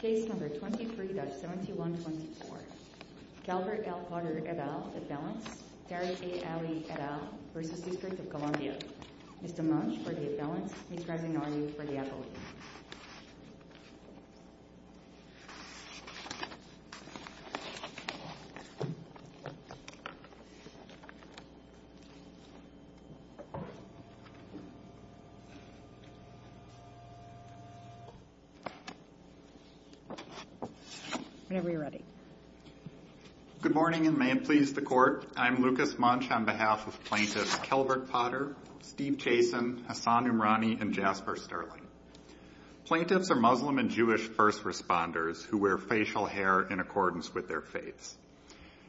Case number 23-7124. Calvert L. Potter, et al., at balance. Terry A. Alley, et al., v. District of Columbia. Mr. Munch, for the at balance. Ms. Resignoli, for the appellate. Good morning, and may it please the Court, I'm Lucas Munch on behalf of Plaintiffs Calvert Potter, Steve Chasen, Hassan Umrani, and Jasper Sterling. Plaintiffs are Muslim and Jewish first responders who wear facial hair in accordance with their faiths.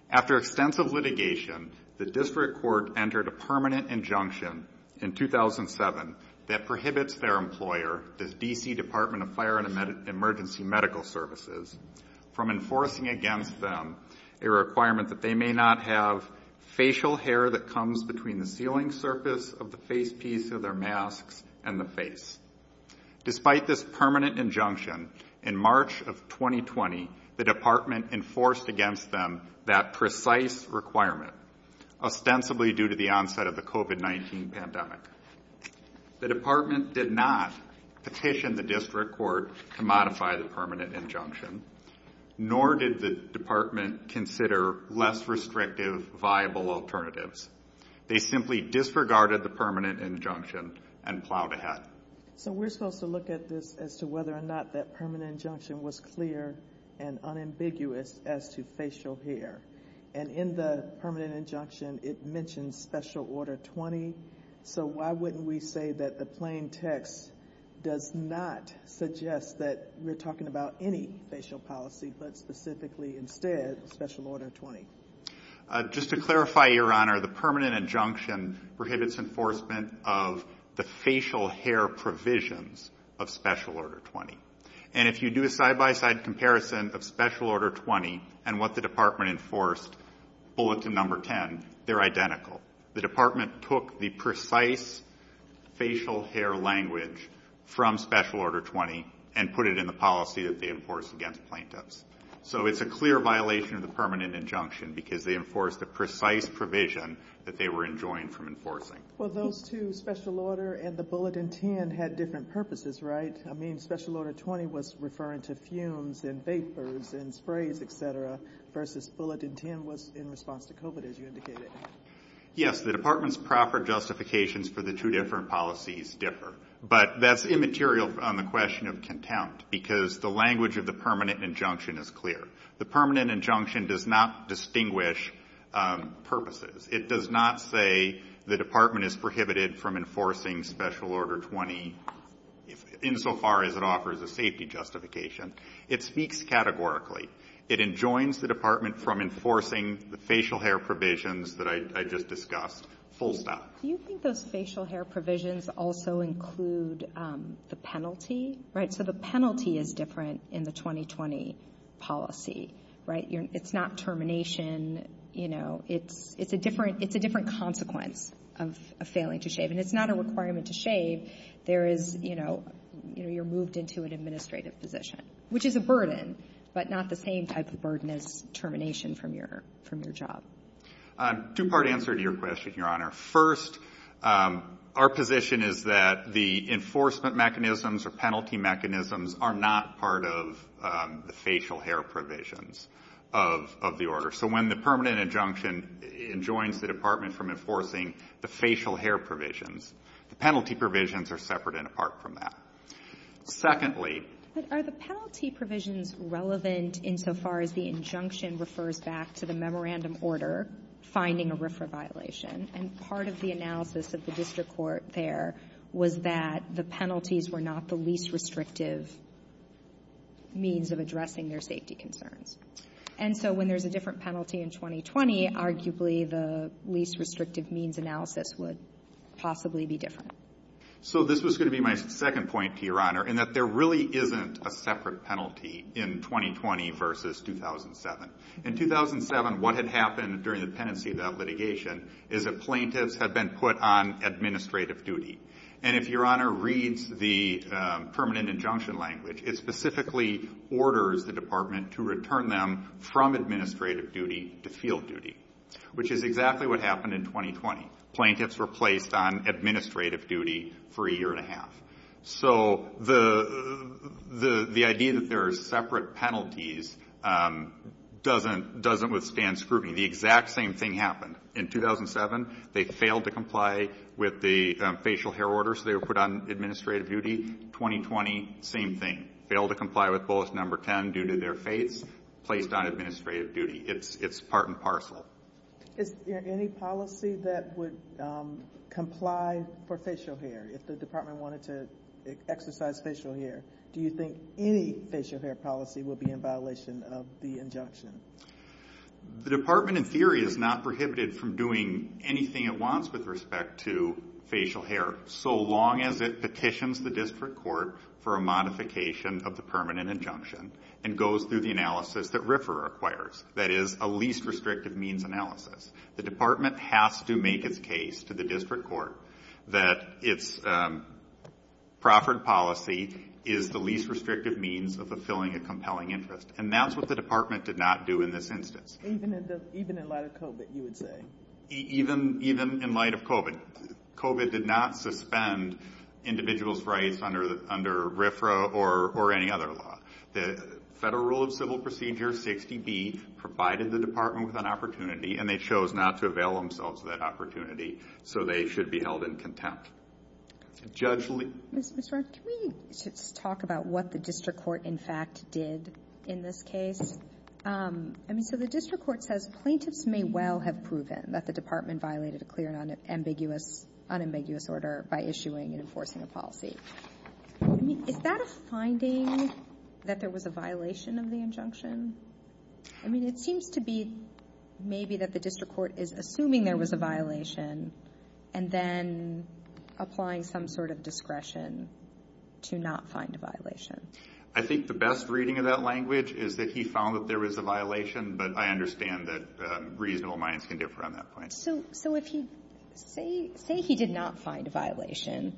After extensive litigation, the District Court entered a permanent injunction in 2007 that prohibits their employer, the D.C. Department of Fire and Emergency Medical Services, from enforcing against them a requirement that they may not have facial hair that comes between the sealing surface of the face piece of their masks and the face. Despite this permanent injunction, in March of 2020, the Department enforced against them that precise requirement, ostensibly due to the onset of the COVID-19 pandemic. The Department did not petition the District Court to modify the permanent injunction, nor did the Department consider less restrictive, viable alternatives. They simply disregarded the permanent injunction and plowed ahead. So we're supposed to look at this as to whether or not that permanent injunction was clear and unambiguous as to facial hair, and in the permanent injunction it mentions Special Order 20. So why wouldn't we say that the plain text does not suggest that we're talking about any facial policy, but specifically, instead, Special Order 20? Just to clarify, Your Honor, the permanent injunction prohibits enforcement of the facial hair provisions of Special Order 20, and if you do a side-by-side comparison of Special Order 20 and what the Department enforced, bullet to number 10, they're identical. The Department took the precise facial hair language from Special Order 20 and put it in the policy that they enforced against plaintiffs. So it's a clear violation of the permanent injunction because they enforced the precise provision that they were enjoined from enforcing. Well, those two, Special Order and the bulletin 10, had different purposes, right? I mean, Special Order 20 was referring to fumes and vapors and sprays, et cetera, versus bulletin 10 was in response to COVID, as you indicated. Yes, the Department's proper justifications for the two different policies differ, but that's immaterial on the question of contempt because the language of the permanent injunction is clear. The permanent injunction does not distinguish purposes. It does not say the Department is prohibited from enforcing Special Order 20, insofar as it offers a safety justification. It speaks categorically. It enjoins the Department from enforcing the facial hair provisions that I just discussed full stop. Do you think those facial hair provisions also include the penalty, right? So the penalty is different in the 2020 policy, right? It's not termination, you know, it's a different consequence of failing to shave. And it's not a requirement to shave. There is, you know, you're moved into an administrative position, which is a burden, but not the same type of burden as termination from your job. Two-part answer to your question, Your Honor. First, our position is that the enforcement mechanisms or penalty mechanisms are not part of the facial hair provisions of the order. So when the permanent injunction enjoins the Department from enforcing the facial hair provisions, the penalty provisions are separate and apart from that. Secondly. Are the penalty provisions relevant insofar as the injunction refers back to the memorandum order, finding a RFRA violation, and part of the analysis of the district court there was that the penalties were not the least restrictive means of addressing their safety concerns. And so when there's a different penalty in 2020, arguably the least restrictive means analysis would possibly be different. So this was going to be my second point to Your Honor, in that there really isn't a separate penalty in 2020 versus 2007. In 2007, what had happened during the pendency of that litigation is that plaintiffs had been put on administrative duty. And if Your Honor reads the permanent injunction language, it specifically orders the Department to return them from administrative duty to field duty, which is exactly what happened in 2020. Plaintiffs were placed on administrative duty for a year and a half. So the idea that there are separate penalties doesn't withstand scrutiny. The exact same thing happened. In 2007, they failed to comply with the facial hair orders. They were put on administrative duty. 2020, same thing. Failed to comply with Bullish Number 10 due to their fates. Placed on administrative duty. It's part and parcel. Is there any policy that would comply for facial hair? If the Department wanted to exercise facial hair, do you think any facial hair policy would be in violation of the injunction? The Department, in theory, is not prohibited from doing anything it wants with respect to facial hair, so long as it petitions the district court for a modification of the permanent injunction and goes through the analysis that RFRA requires, that is, a least restrictive means analysis. The Department has to make its case to the district court that its proffered policy is the least restrictive means of fulfilling a compelling interest, and that's what the Department did not do in this instance. Even in light of COVID, you would say? Even in light of COVID. COVID did not suspend individuals' rights under RFRA or any other law. The Federal Rule of Civil Procedure 60B provided the Department with an opportunity and they chose not to avail themselves of that opportunity, so they should be held in contempt. Judge Lee? Ms. Roth, can we just talk about what the district court, in fact, did in this case? I mean, so the district court says, plaintiffs may well have proven that the department violated a clear and unambiguous order by issuing and enforcing a policy, I mean, is that a finding that there was a violation of the injunction? I mean, it seems to be maybe that the district court is assuming there was a violation and then applying some sort of discretion to not find a violation. I think the best reading of that language is that he found that there was a violation, but I understand that reasonable minds can differ on that point. So if you say he did not find a violation,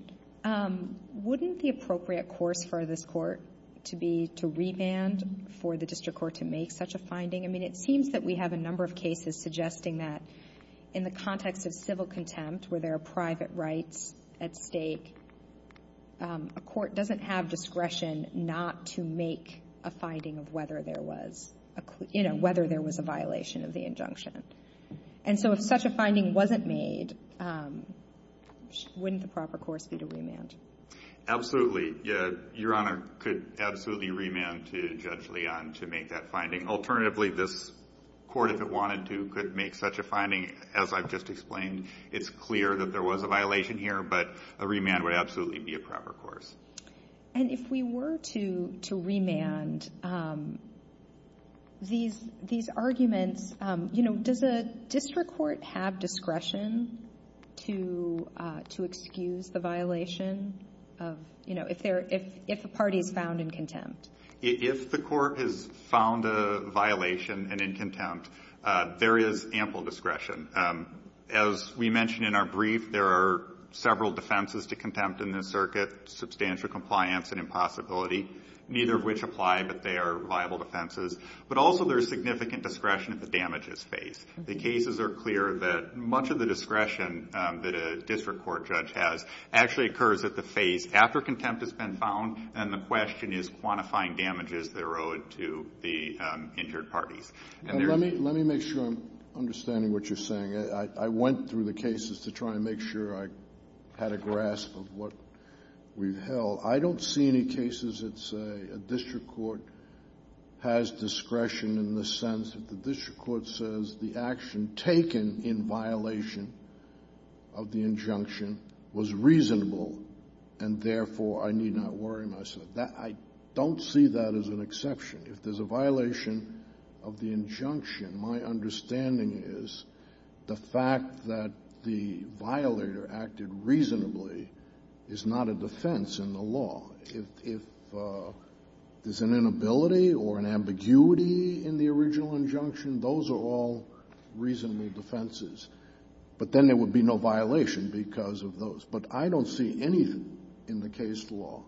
wouldn't the appropriate course for this court to be to revand for the district court to make such a finding? I mean, it seems that we have a number of cases suggesting that in the context of civil contempt where there are private rights at stake, a court doesn't have discretion not to make a finding of whether there was a violation of the injunction. And so if such a finding wasn't made, wouldn't the proper course be to remand? Absolutely, your honor, could absolutely remand to Judge Leon to make that finding. Alternatively, this court, if it wanted to, could make such a finding, as I've just explained. It's clear that there was a violation here, but a remand would absolutely be a proper course. And if we were to remand these arguments, does a district court have discretion to excuse the violation of, if a party is found in contempt? If the court has found a violation and in contempt, there is ample discretion. As we mentioned in our brief, there are several defenses to contempt in this circuit, substantial compliance and impossibility, neither of which apply, but they are viable defenses. But also there's significant discretion at the damages phase. The cases are clear that much of the discretion that a district court judge has actually occurs at the phase after contempt has been found, and the question is quantifying damages that are owed to the injured parties. And there's- Let me make sure I'm understanding what you're saying. I went through the cases to try and make sure I had a grasp of what we've held. I don't see any cases that say a district court has discretion in the sense that the district court says the action taken in violation of the injunction was reasonable and therefore I need not worry myself. I don't see that as an exception. If there's a violation of the injunction, my understanding is the fact that the violator acted reasonably is not a defense in the law. If there's an inability or an ambiguity in the original injunction, those are all reasonable defenses. But then there would be no violation because of those. But I don't see anything in the case law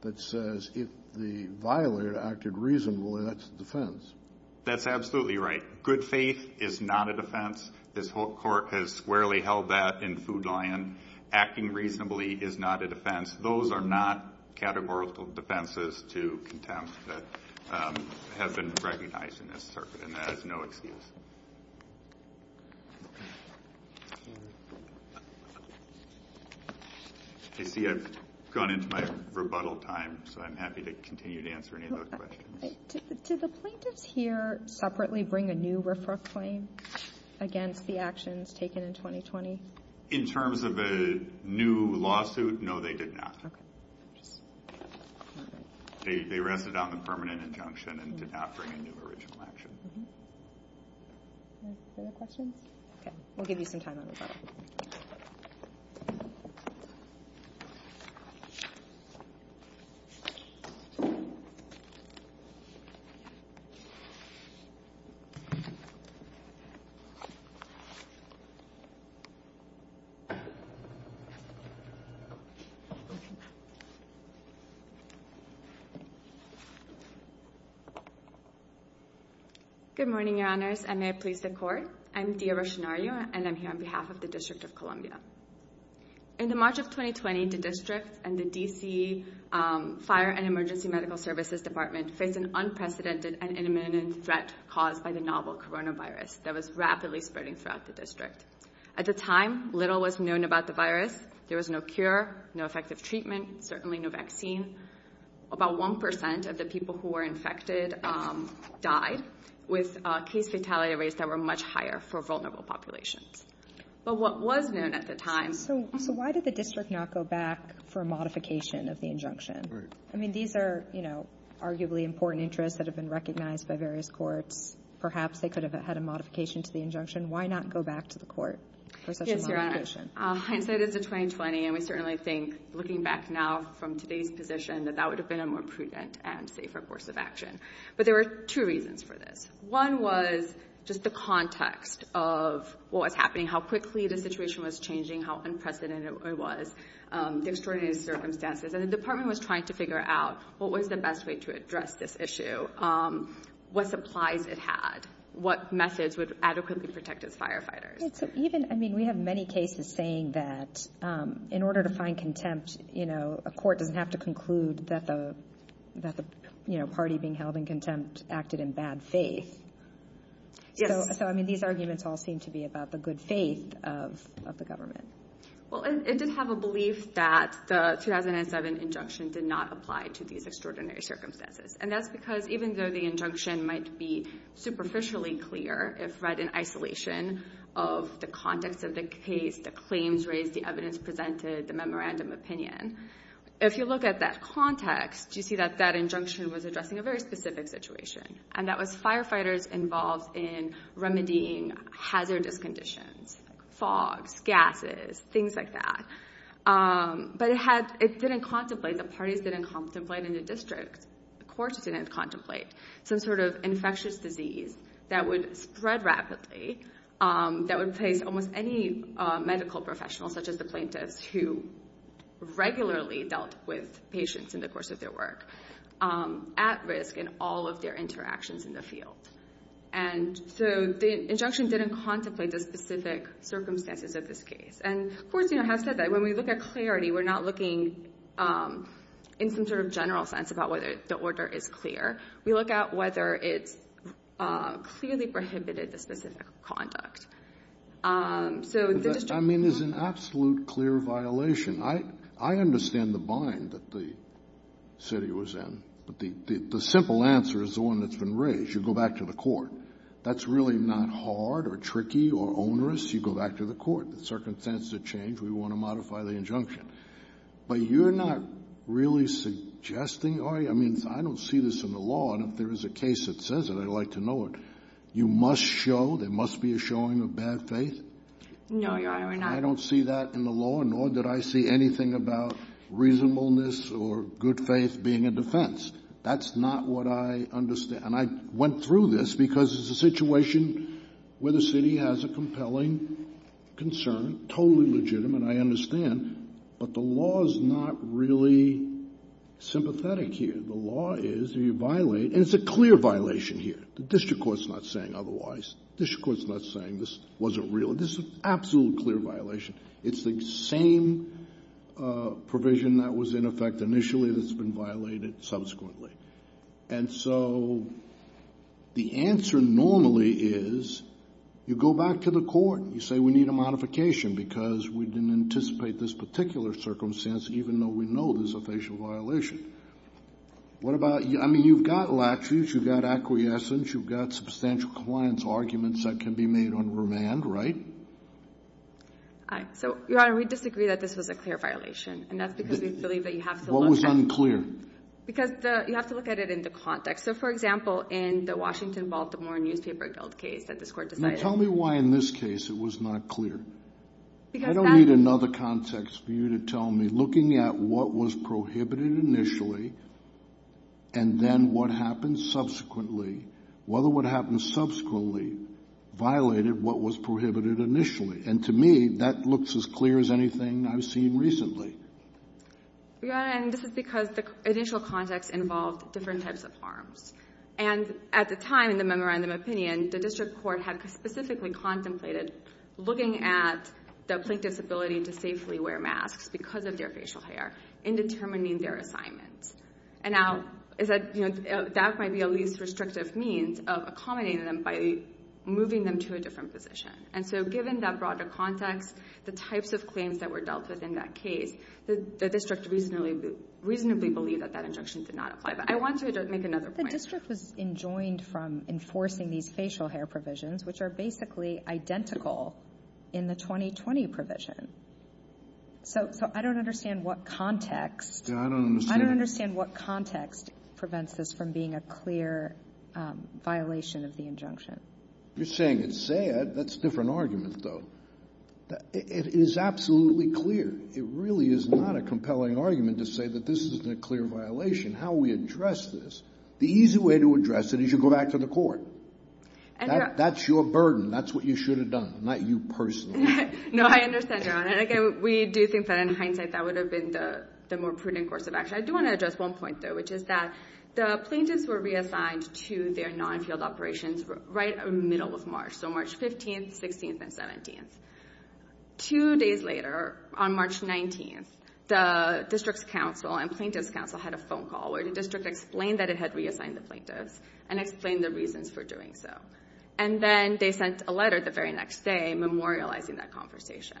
that says if the violator acted reasonably, that's a defense. That's absolutely right. Good faith is not a defense. This whole court has squarely held that in Food Lion. Acting reasonably is not a defense. Those are not categorical defenses to contempt that have been recognized in this circuit, and that is no excuse. I see I've gone into my rebuttal time, so I'm happy to continue to answer any of those questions. Do the plaintiffs here separately bring a new RFRA claim against the actions taken in 2020? In terms of a new lawsuit, no, they did not. Okay. They rested on the permanent injunction and did not bring a new original action. Mm-hm. Any other questions? Okay, we'll give you some time on rebuttal. Good morning, Your Honors, and may it please the court. I'm Dia Rochonario, and I'm here on behalf of the District of Columbia. In the March of 2020, the District and the D.C. Fire and Emergency Medical Services Department faced an unprecedented and imminent threat caused by the novel coronavirus that was rapidly spreading throughout the district. At the time, little was known about the virus. There was no cure, no effective treatment, certainly no vaccine. About 1% of the people who were infected died with case fatality rates that were much higher for vulnerable populations. But what was known at the time... So why did the district not go back for a modification of the injunction? Right. I mean, these are, you know, arguably important interests that have been recognized by various courts. Perhaps they could have had a modification to the injunction. Why not go back to the court for such a modification? Yes, Your Honor. Hindsight is a 20-20, and we certainly think, looking back now from today's position, that that would have been a more prudent and safer course of action. But there were two reasons for this. One was just the context of what was happening, how quickly the situation was changing, how unprecedented it was, the extraordinary circumstances. And the department was trying to figure out what was the best way to address this issue, what supplies it had, what methods would adequately protect its firefighters. And so even, I mean, we have many cases saying that in order to find contempt, you know, a court doesn't have to conclude that the, you know, party being held in contempt acted in bad faith. Yes. So, I mean, these arguments all seem to be about the good faith of the government. Well, it did have a belief that the 2007 injunction did not apply to these extraordinary circumstances. And that's because even though the injunction might be superficially clear if read in isolation of the context of the case, the claims raised, the evidence presented, the memorandum opinion, if you look at that context, you see that that injunction was addressing a very specific situation. And that was firefighters involved in remedying hazardous conditions, fogs, gases, things like that. But it didn't contemplate, the parties didn't contemplate, and the district courts didn't contemplate some sort of infectious disease that would spread rapidly, that would place almost any medical professional, such as the plaintiffs who regularly dealt with patients in the course of their work, at risk in all of their interactions in the field. And so the injunction didn't contemplate the specific circumstances of this case. And courts, you know, have said that when we look at clarity, we're not looking in some sort of general sense about whether the order is clear. We look at whether it's clearly prohibited the specific conduct. So the district court... I mean, there's an absolute clear violation. I understand the bind that the city was in. But the simple answer is the one that's been raised. You go back to the court. That's really not hard or tricky or onerous. You go back to the court. The circumstances have changed. We want to modify the injunction. But you're not really suggesting... I mean, I don't see this in the law. And if there is a case that says it, I'd like to know it. You must show, there must be a showing of bad faith. No, Your Honor, we're not. I don't see that in the law, nor did I see anything about reasonableness or good faith being a defense. That's not what I understand. And I went through this because it's a situation where the city has a compelling concern, totally legitimate, I understand. But the law is not really sympathetic here. The law is, if you violate... And it's a clear violation here. The district court's not saying otherwise. District court's not saying this wasn't real. This is an absolutely clear violation. It's the same provision that was in effect initially that's been violated subsequently. And so the answer normally is you go back to the court. You say we need a modification because we didn't anticipate this particular circumstance, even though we know there's a facial violation. What about... I mean, you've got laches. You've got acquiescence. You've got substantial client's arguments that can be made on remand, right? I... So, Your Honor, we disagree that this was a clear violation. And that's because we believe that you have to look at... What was unclear? Because you have to look at it in the context. So for example, in the Washington Baltimore newspaper guilt case that this court decided... Tell me why in this case it was not clear. Because that... I don't need another context for you to tell me. Looking at what was prohibited initially and then what happened subsequently, whether what happened subsequently violated what was prohibited initially. And to me, that looks as clear as anything I've seen recently. Your Honor, and this is because the initial context involved different types of harms. And at the time in the memorandum opinion, the district court had specifically contemplated looking at the plaintiff's ability to safely wear masks because of their facial hair in determining their assignments. And now, that might be a least restrictive means of accommodating them by moving them to a different position. And so given that broader context, the types of claims that were dealt with in that case, the district reasonably believed that that injunction did not apply. But I want to make another point. The district was enjoined from enforcing these facial hair provisions, which are basically identical in the 2020 provision. So I don't understand what context... Yeah, I don't understand... I don't understand what context prevents this from being a clear violation of the injunction. You're saying it's sad. That's a different argument, though. It is absolutely clear. It really is not a compelling argument to say that this isn't a clear violation. How we address this, the easy way to address it is you go back to the court. That's your burden. That's what you should have done, not you personally. No, I understand, Your Honor. And again, we do think that in hindsight, that would have been the more prudent course of action. I do want to address one point, though, which is that the plaintiffs were reassigned to their non-field operations right in the middle of March. So March 15th, 16th, and 17th. Two days later, on March 19th, the district's counsel and plaintiff's counsel had a phone call where the district explained that it had reassigned the plaintiffs and explained the reasons for doing so. And then they sent a letter the very next day memorializing that conversation.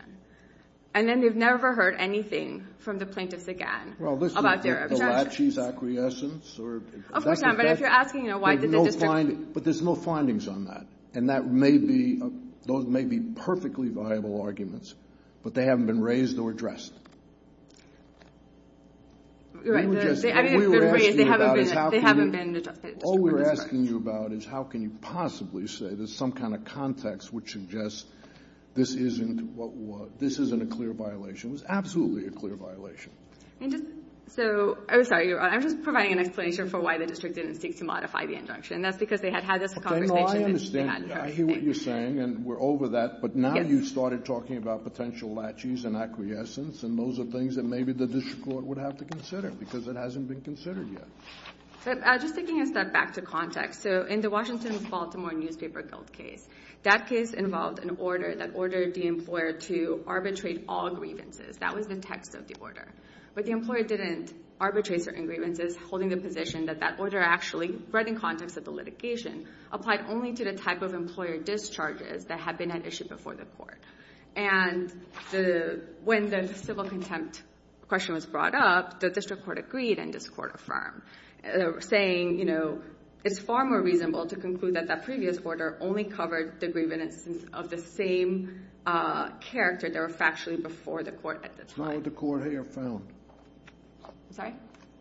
And then they've never heard anything from the plaintiffs again about their objections. Well, listen, the Lachey's acquiescence, or... Of course not. But if you're asking, you know, why did the district... But there's no findings on that. And that may be, those may be perfectly viable arguments, but they haven't been raised or addressed. You're right. They haven't been addressed. All we're asking you about is how can you possibly say there's some kind of context which suggests this isn't a clear violation. It was absolutely a clear violation. And just, so, I'm sorry, Your Honor, I'm just providing an explanation for why the district didn't seek to modify the injunction. And that's because they had had this conversation and they hadn't heard anything. Okay, no, I understand. I hear what you're saying, and we're over that. But now you've started talking about potential Lachey's and acquiescence, and those are things that maybe the district court would have to consider because it hasn't been considered yet. So, just taking a step back to context. So, in the Washington Baltimore Newspaper guilt case, that case involved an order that ordered the employer to arbitrate all grievances. That was the text of the order. But the employer didn't arbitrate certain grievances, holding the position that that order actually, right in context of the litigation, applied only to the type of employer discharges that had been at issue before the court. And when the civil contempt question was brought up, the district court agreed and this court affirmed, saying, you know, it's far more reasonable to conclude that that previous order only covered the grievances of the same character that were factually before the court at the time. That's not what the court here found. Sorry?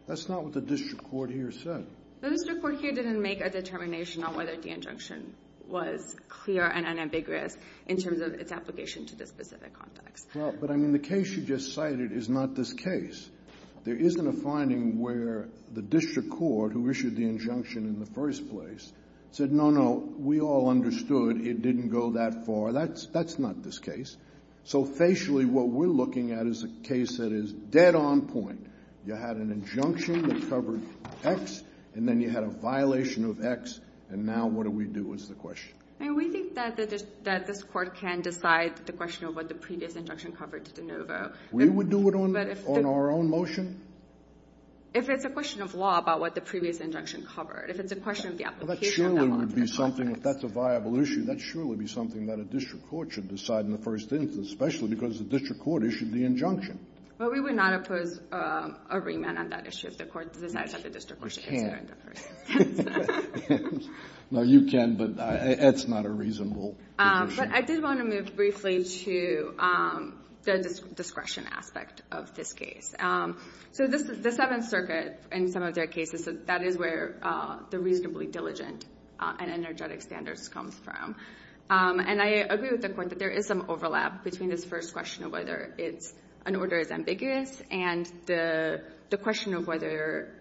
That's not what the district court here said. The district court here didn't make a determination on whether the injunction was clear and unambiguous in terms of its application to this specific context. But I mean, the case you just cited is not this case. There isn't a finding where the district court, who issued the injunction in the first place, said, no, no, we all understood it didn't go that far. That's not this case. So facially, what we're looking at is a case that is dead on point. You had an injunction that covered X, and then you had a violation of X, and now what do we do is the question. And we think that this court can decide the question of what the previous injunction covered to De Novo. We would do it on our own motion? If it's a question of law, about what the previous injunction covered. If it's a question of the application of that law. Well, that surely would be something, if that's a viable issue, that surely would be something that a district court should decide in the first instance, especially because the district court issued the injunction. Well, we would not oppose a remand on that issue if the court decides that the district court should issue it in the first instance. No, you can, but that's not a reasonable position. But I did want to move briefly to the discretion aspect of this case. So the Seventh Circuit, in some of their cases, that is where the reasonably diligent and energetic standards come from. And I agree with the Court that there is some overlap between this first question of whether an order is ambiguous and the question of whether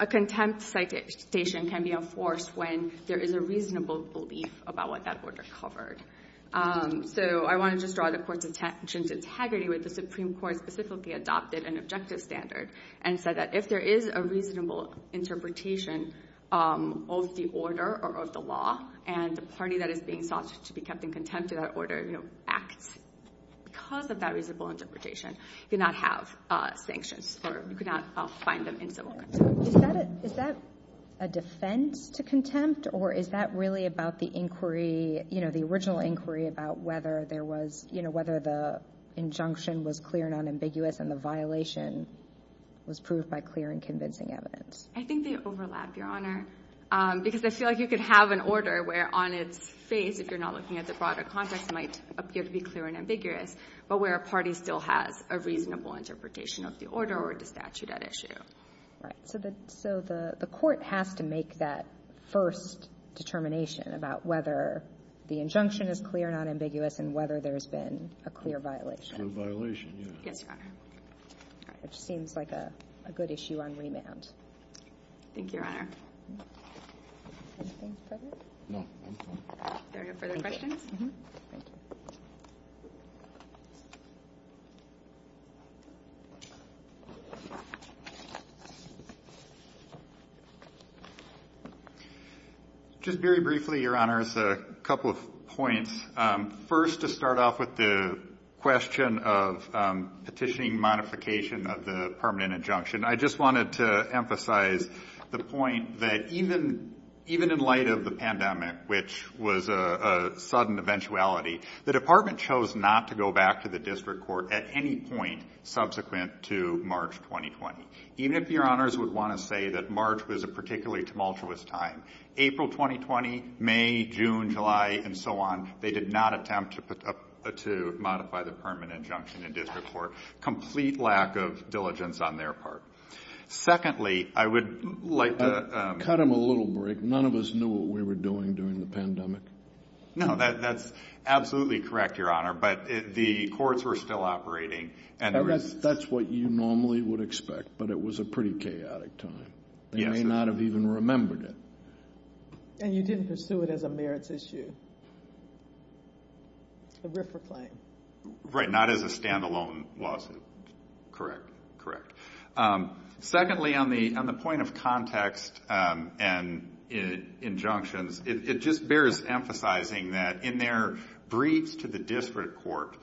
a contempt citation can be enforced when there is a reasonable belief about what that order covered. So I want to just draw the Court's attention to integrity with the Supreme Court specifically adopted an objective standard and said that if there is a reasonable interpretation of the order or of the law, and the party that is being sought to be kept in contempt of that order, acts because of that reasonable interpretation, you do not have sanctions or you could not find them in civil court. Is that a defense to contempt or is that really about the inquiry, the original inquiry about whether there was, whether the injunction was clear and unambiguous and the violation was proved by clear and convincing evidence? I think they overlap, Your Honor, because I feel like you could have an order where on its face, if you're not looking at the broader context, might appear to be clear and ambiguous, but where a party still has a reasonable interpretation of the order or the statute at issue. Right, so the Court has to make that first determination about whether the injunction is clear and unambiguous and whether there's been a clear violation. Clear violation, yeah. Yes, Your Honor. All right, it seems like a good issue on remand. Thank you, Your Honor. Anything further? No, thank you. Is there any further questions? Thank you. Just very briefly, Your Honor, it's a couple of points. First, to start off with the question of petitioning modification of the permanent injunction, I just wanted to emphasize the point that even in light of the pandemic, which was a sudden eventuality, the department chose not to go back to the district court at any point subsequent to March 2020. Even if Your Honors would want to say that March was a particularly tumultuous time, April 2020, May, June, July, and so on, they did not attempt to modify the permanent injunction in district court. Complete lack of diligence on their part. Secondly, I would like to... Cut him a little break. None of us knew what we were doing during the pandemic. No, that's absolutely correct, Your Honor, but the courts were still operating and there was... That's what you normally would expect, but it was a pretty chaotic time. They may not have even remembered it. And you didn't pursue it as a merits issue. A RIF or claim. Right, not as a standalone lawsuit. Correct, correct. Secondly, on the point of context and injunctions, it just bears emphasizing that in their briefs to the district court,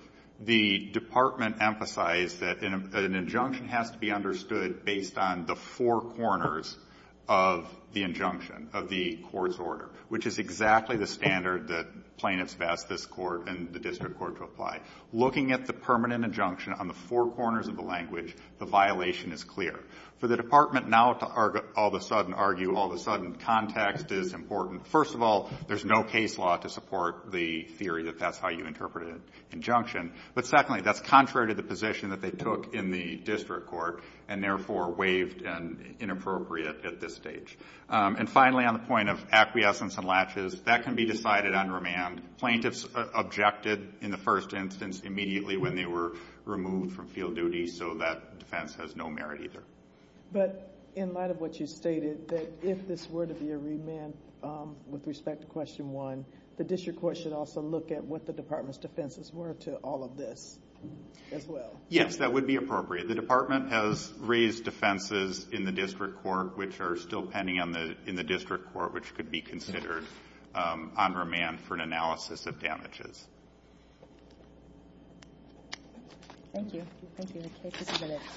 the department emphasized that an injunction has to be understood based on the four corners of the injunction of the court's order, which is exactly the standard that plaintiffs have asked this court and the district court to apply. Looking at the permanent injunction on the four corners of the language, the violation is clear. For the department now to all of a sudden argue all of a sudden context is important. First of all, there's no case law to support the theory that that's how you interpret an injunction. But secondly, that's contrary to the position that they took in the district court and therefore waived and inappropriate at this stage. And finally, on the point of acquiescence and latches, that can be decided on remand. Plaintiffs objected in the first instance immediately when they were removed from field duty, so that defense has no merit either. But in light of what you stated, that if this were to be a remand with respect to question one, the district court should also look at what the department's defenses were to all of this as well. Yes, that would be appropriate. The department has raised defenses in the district court, which are still pending in the district court, which could be considered on remand for an analysis of damages. Thank you. Thank you.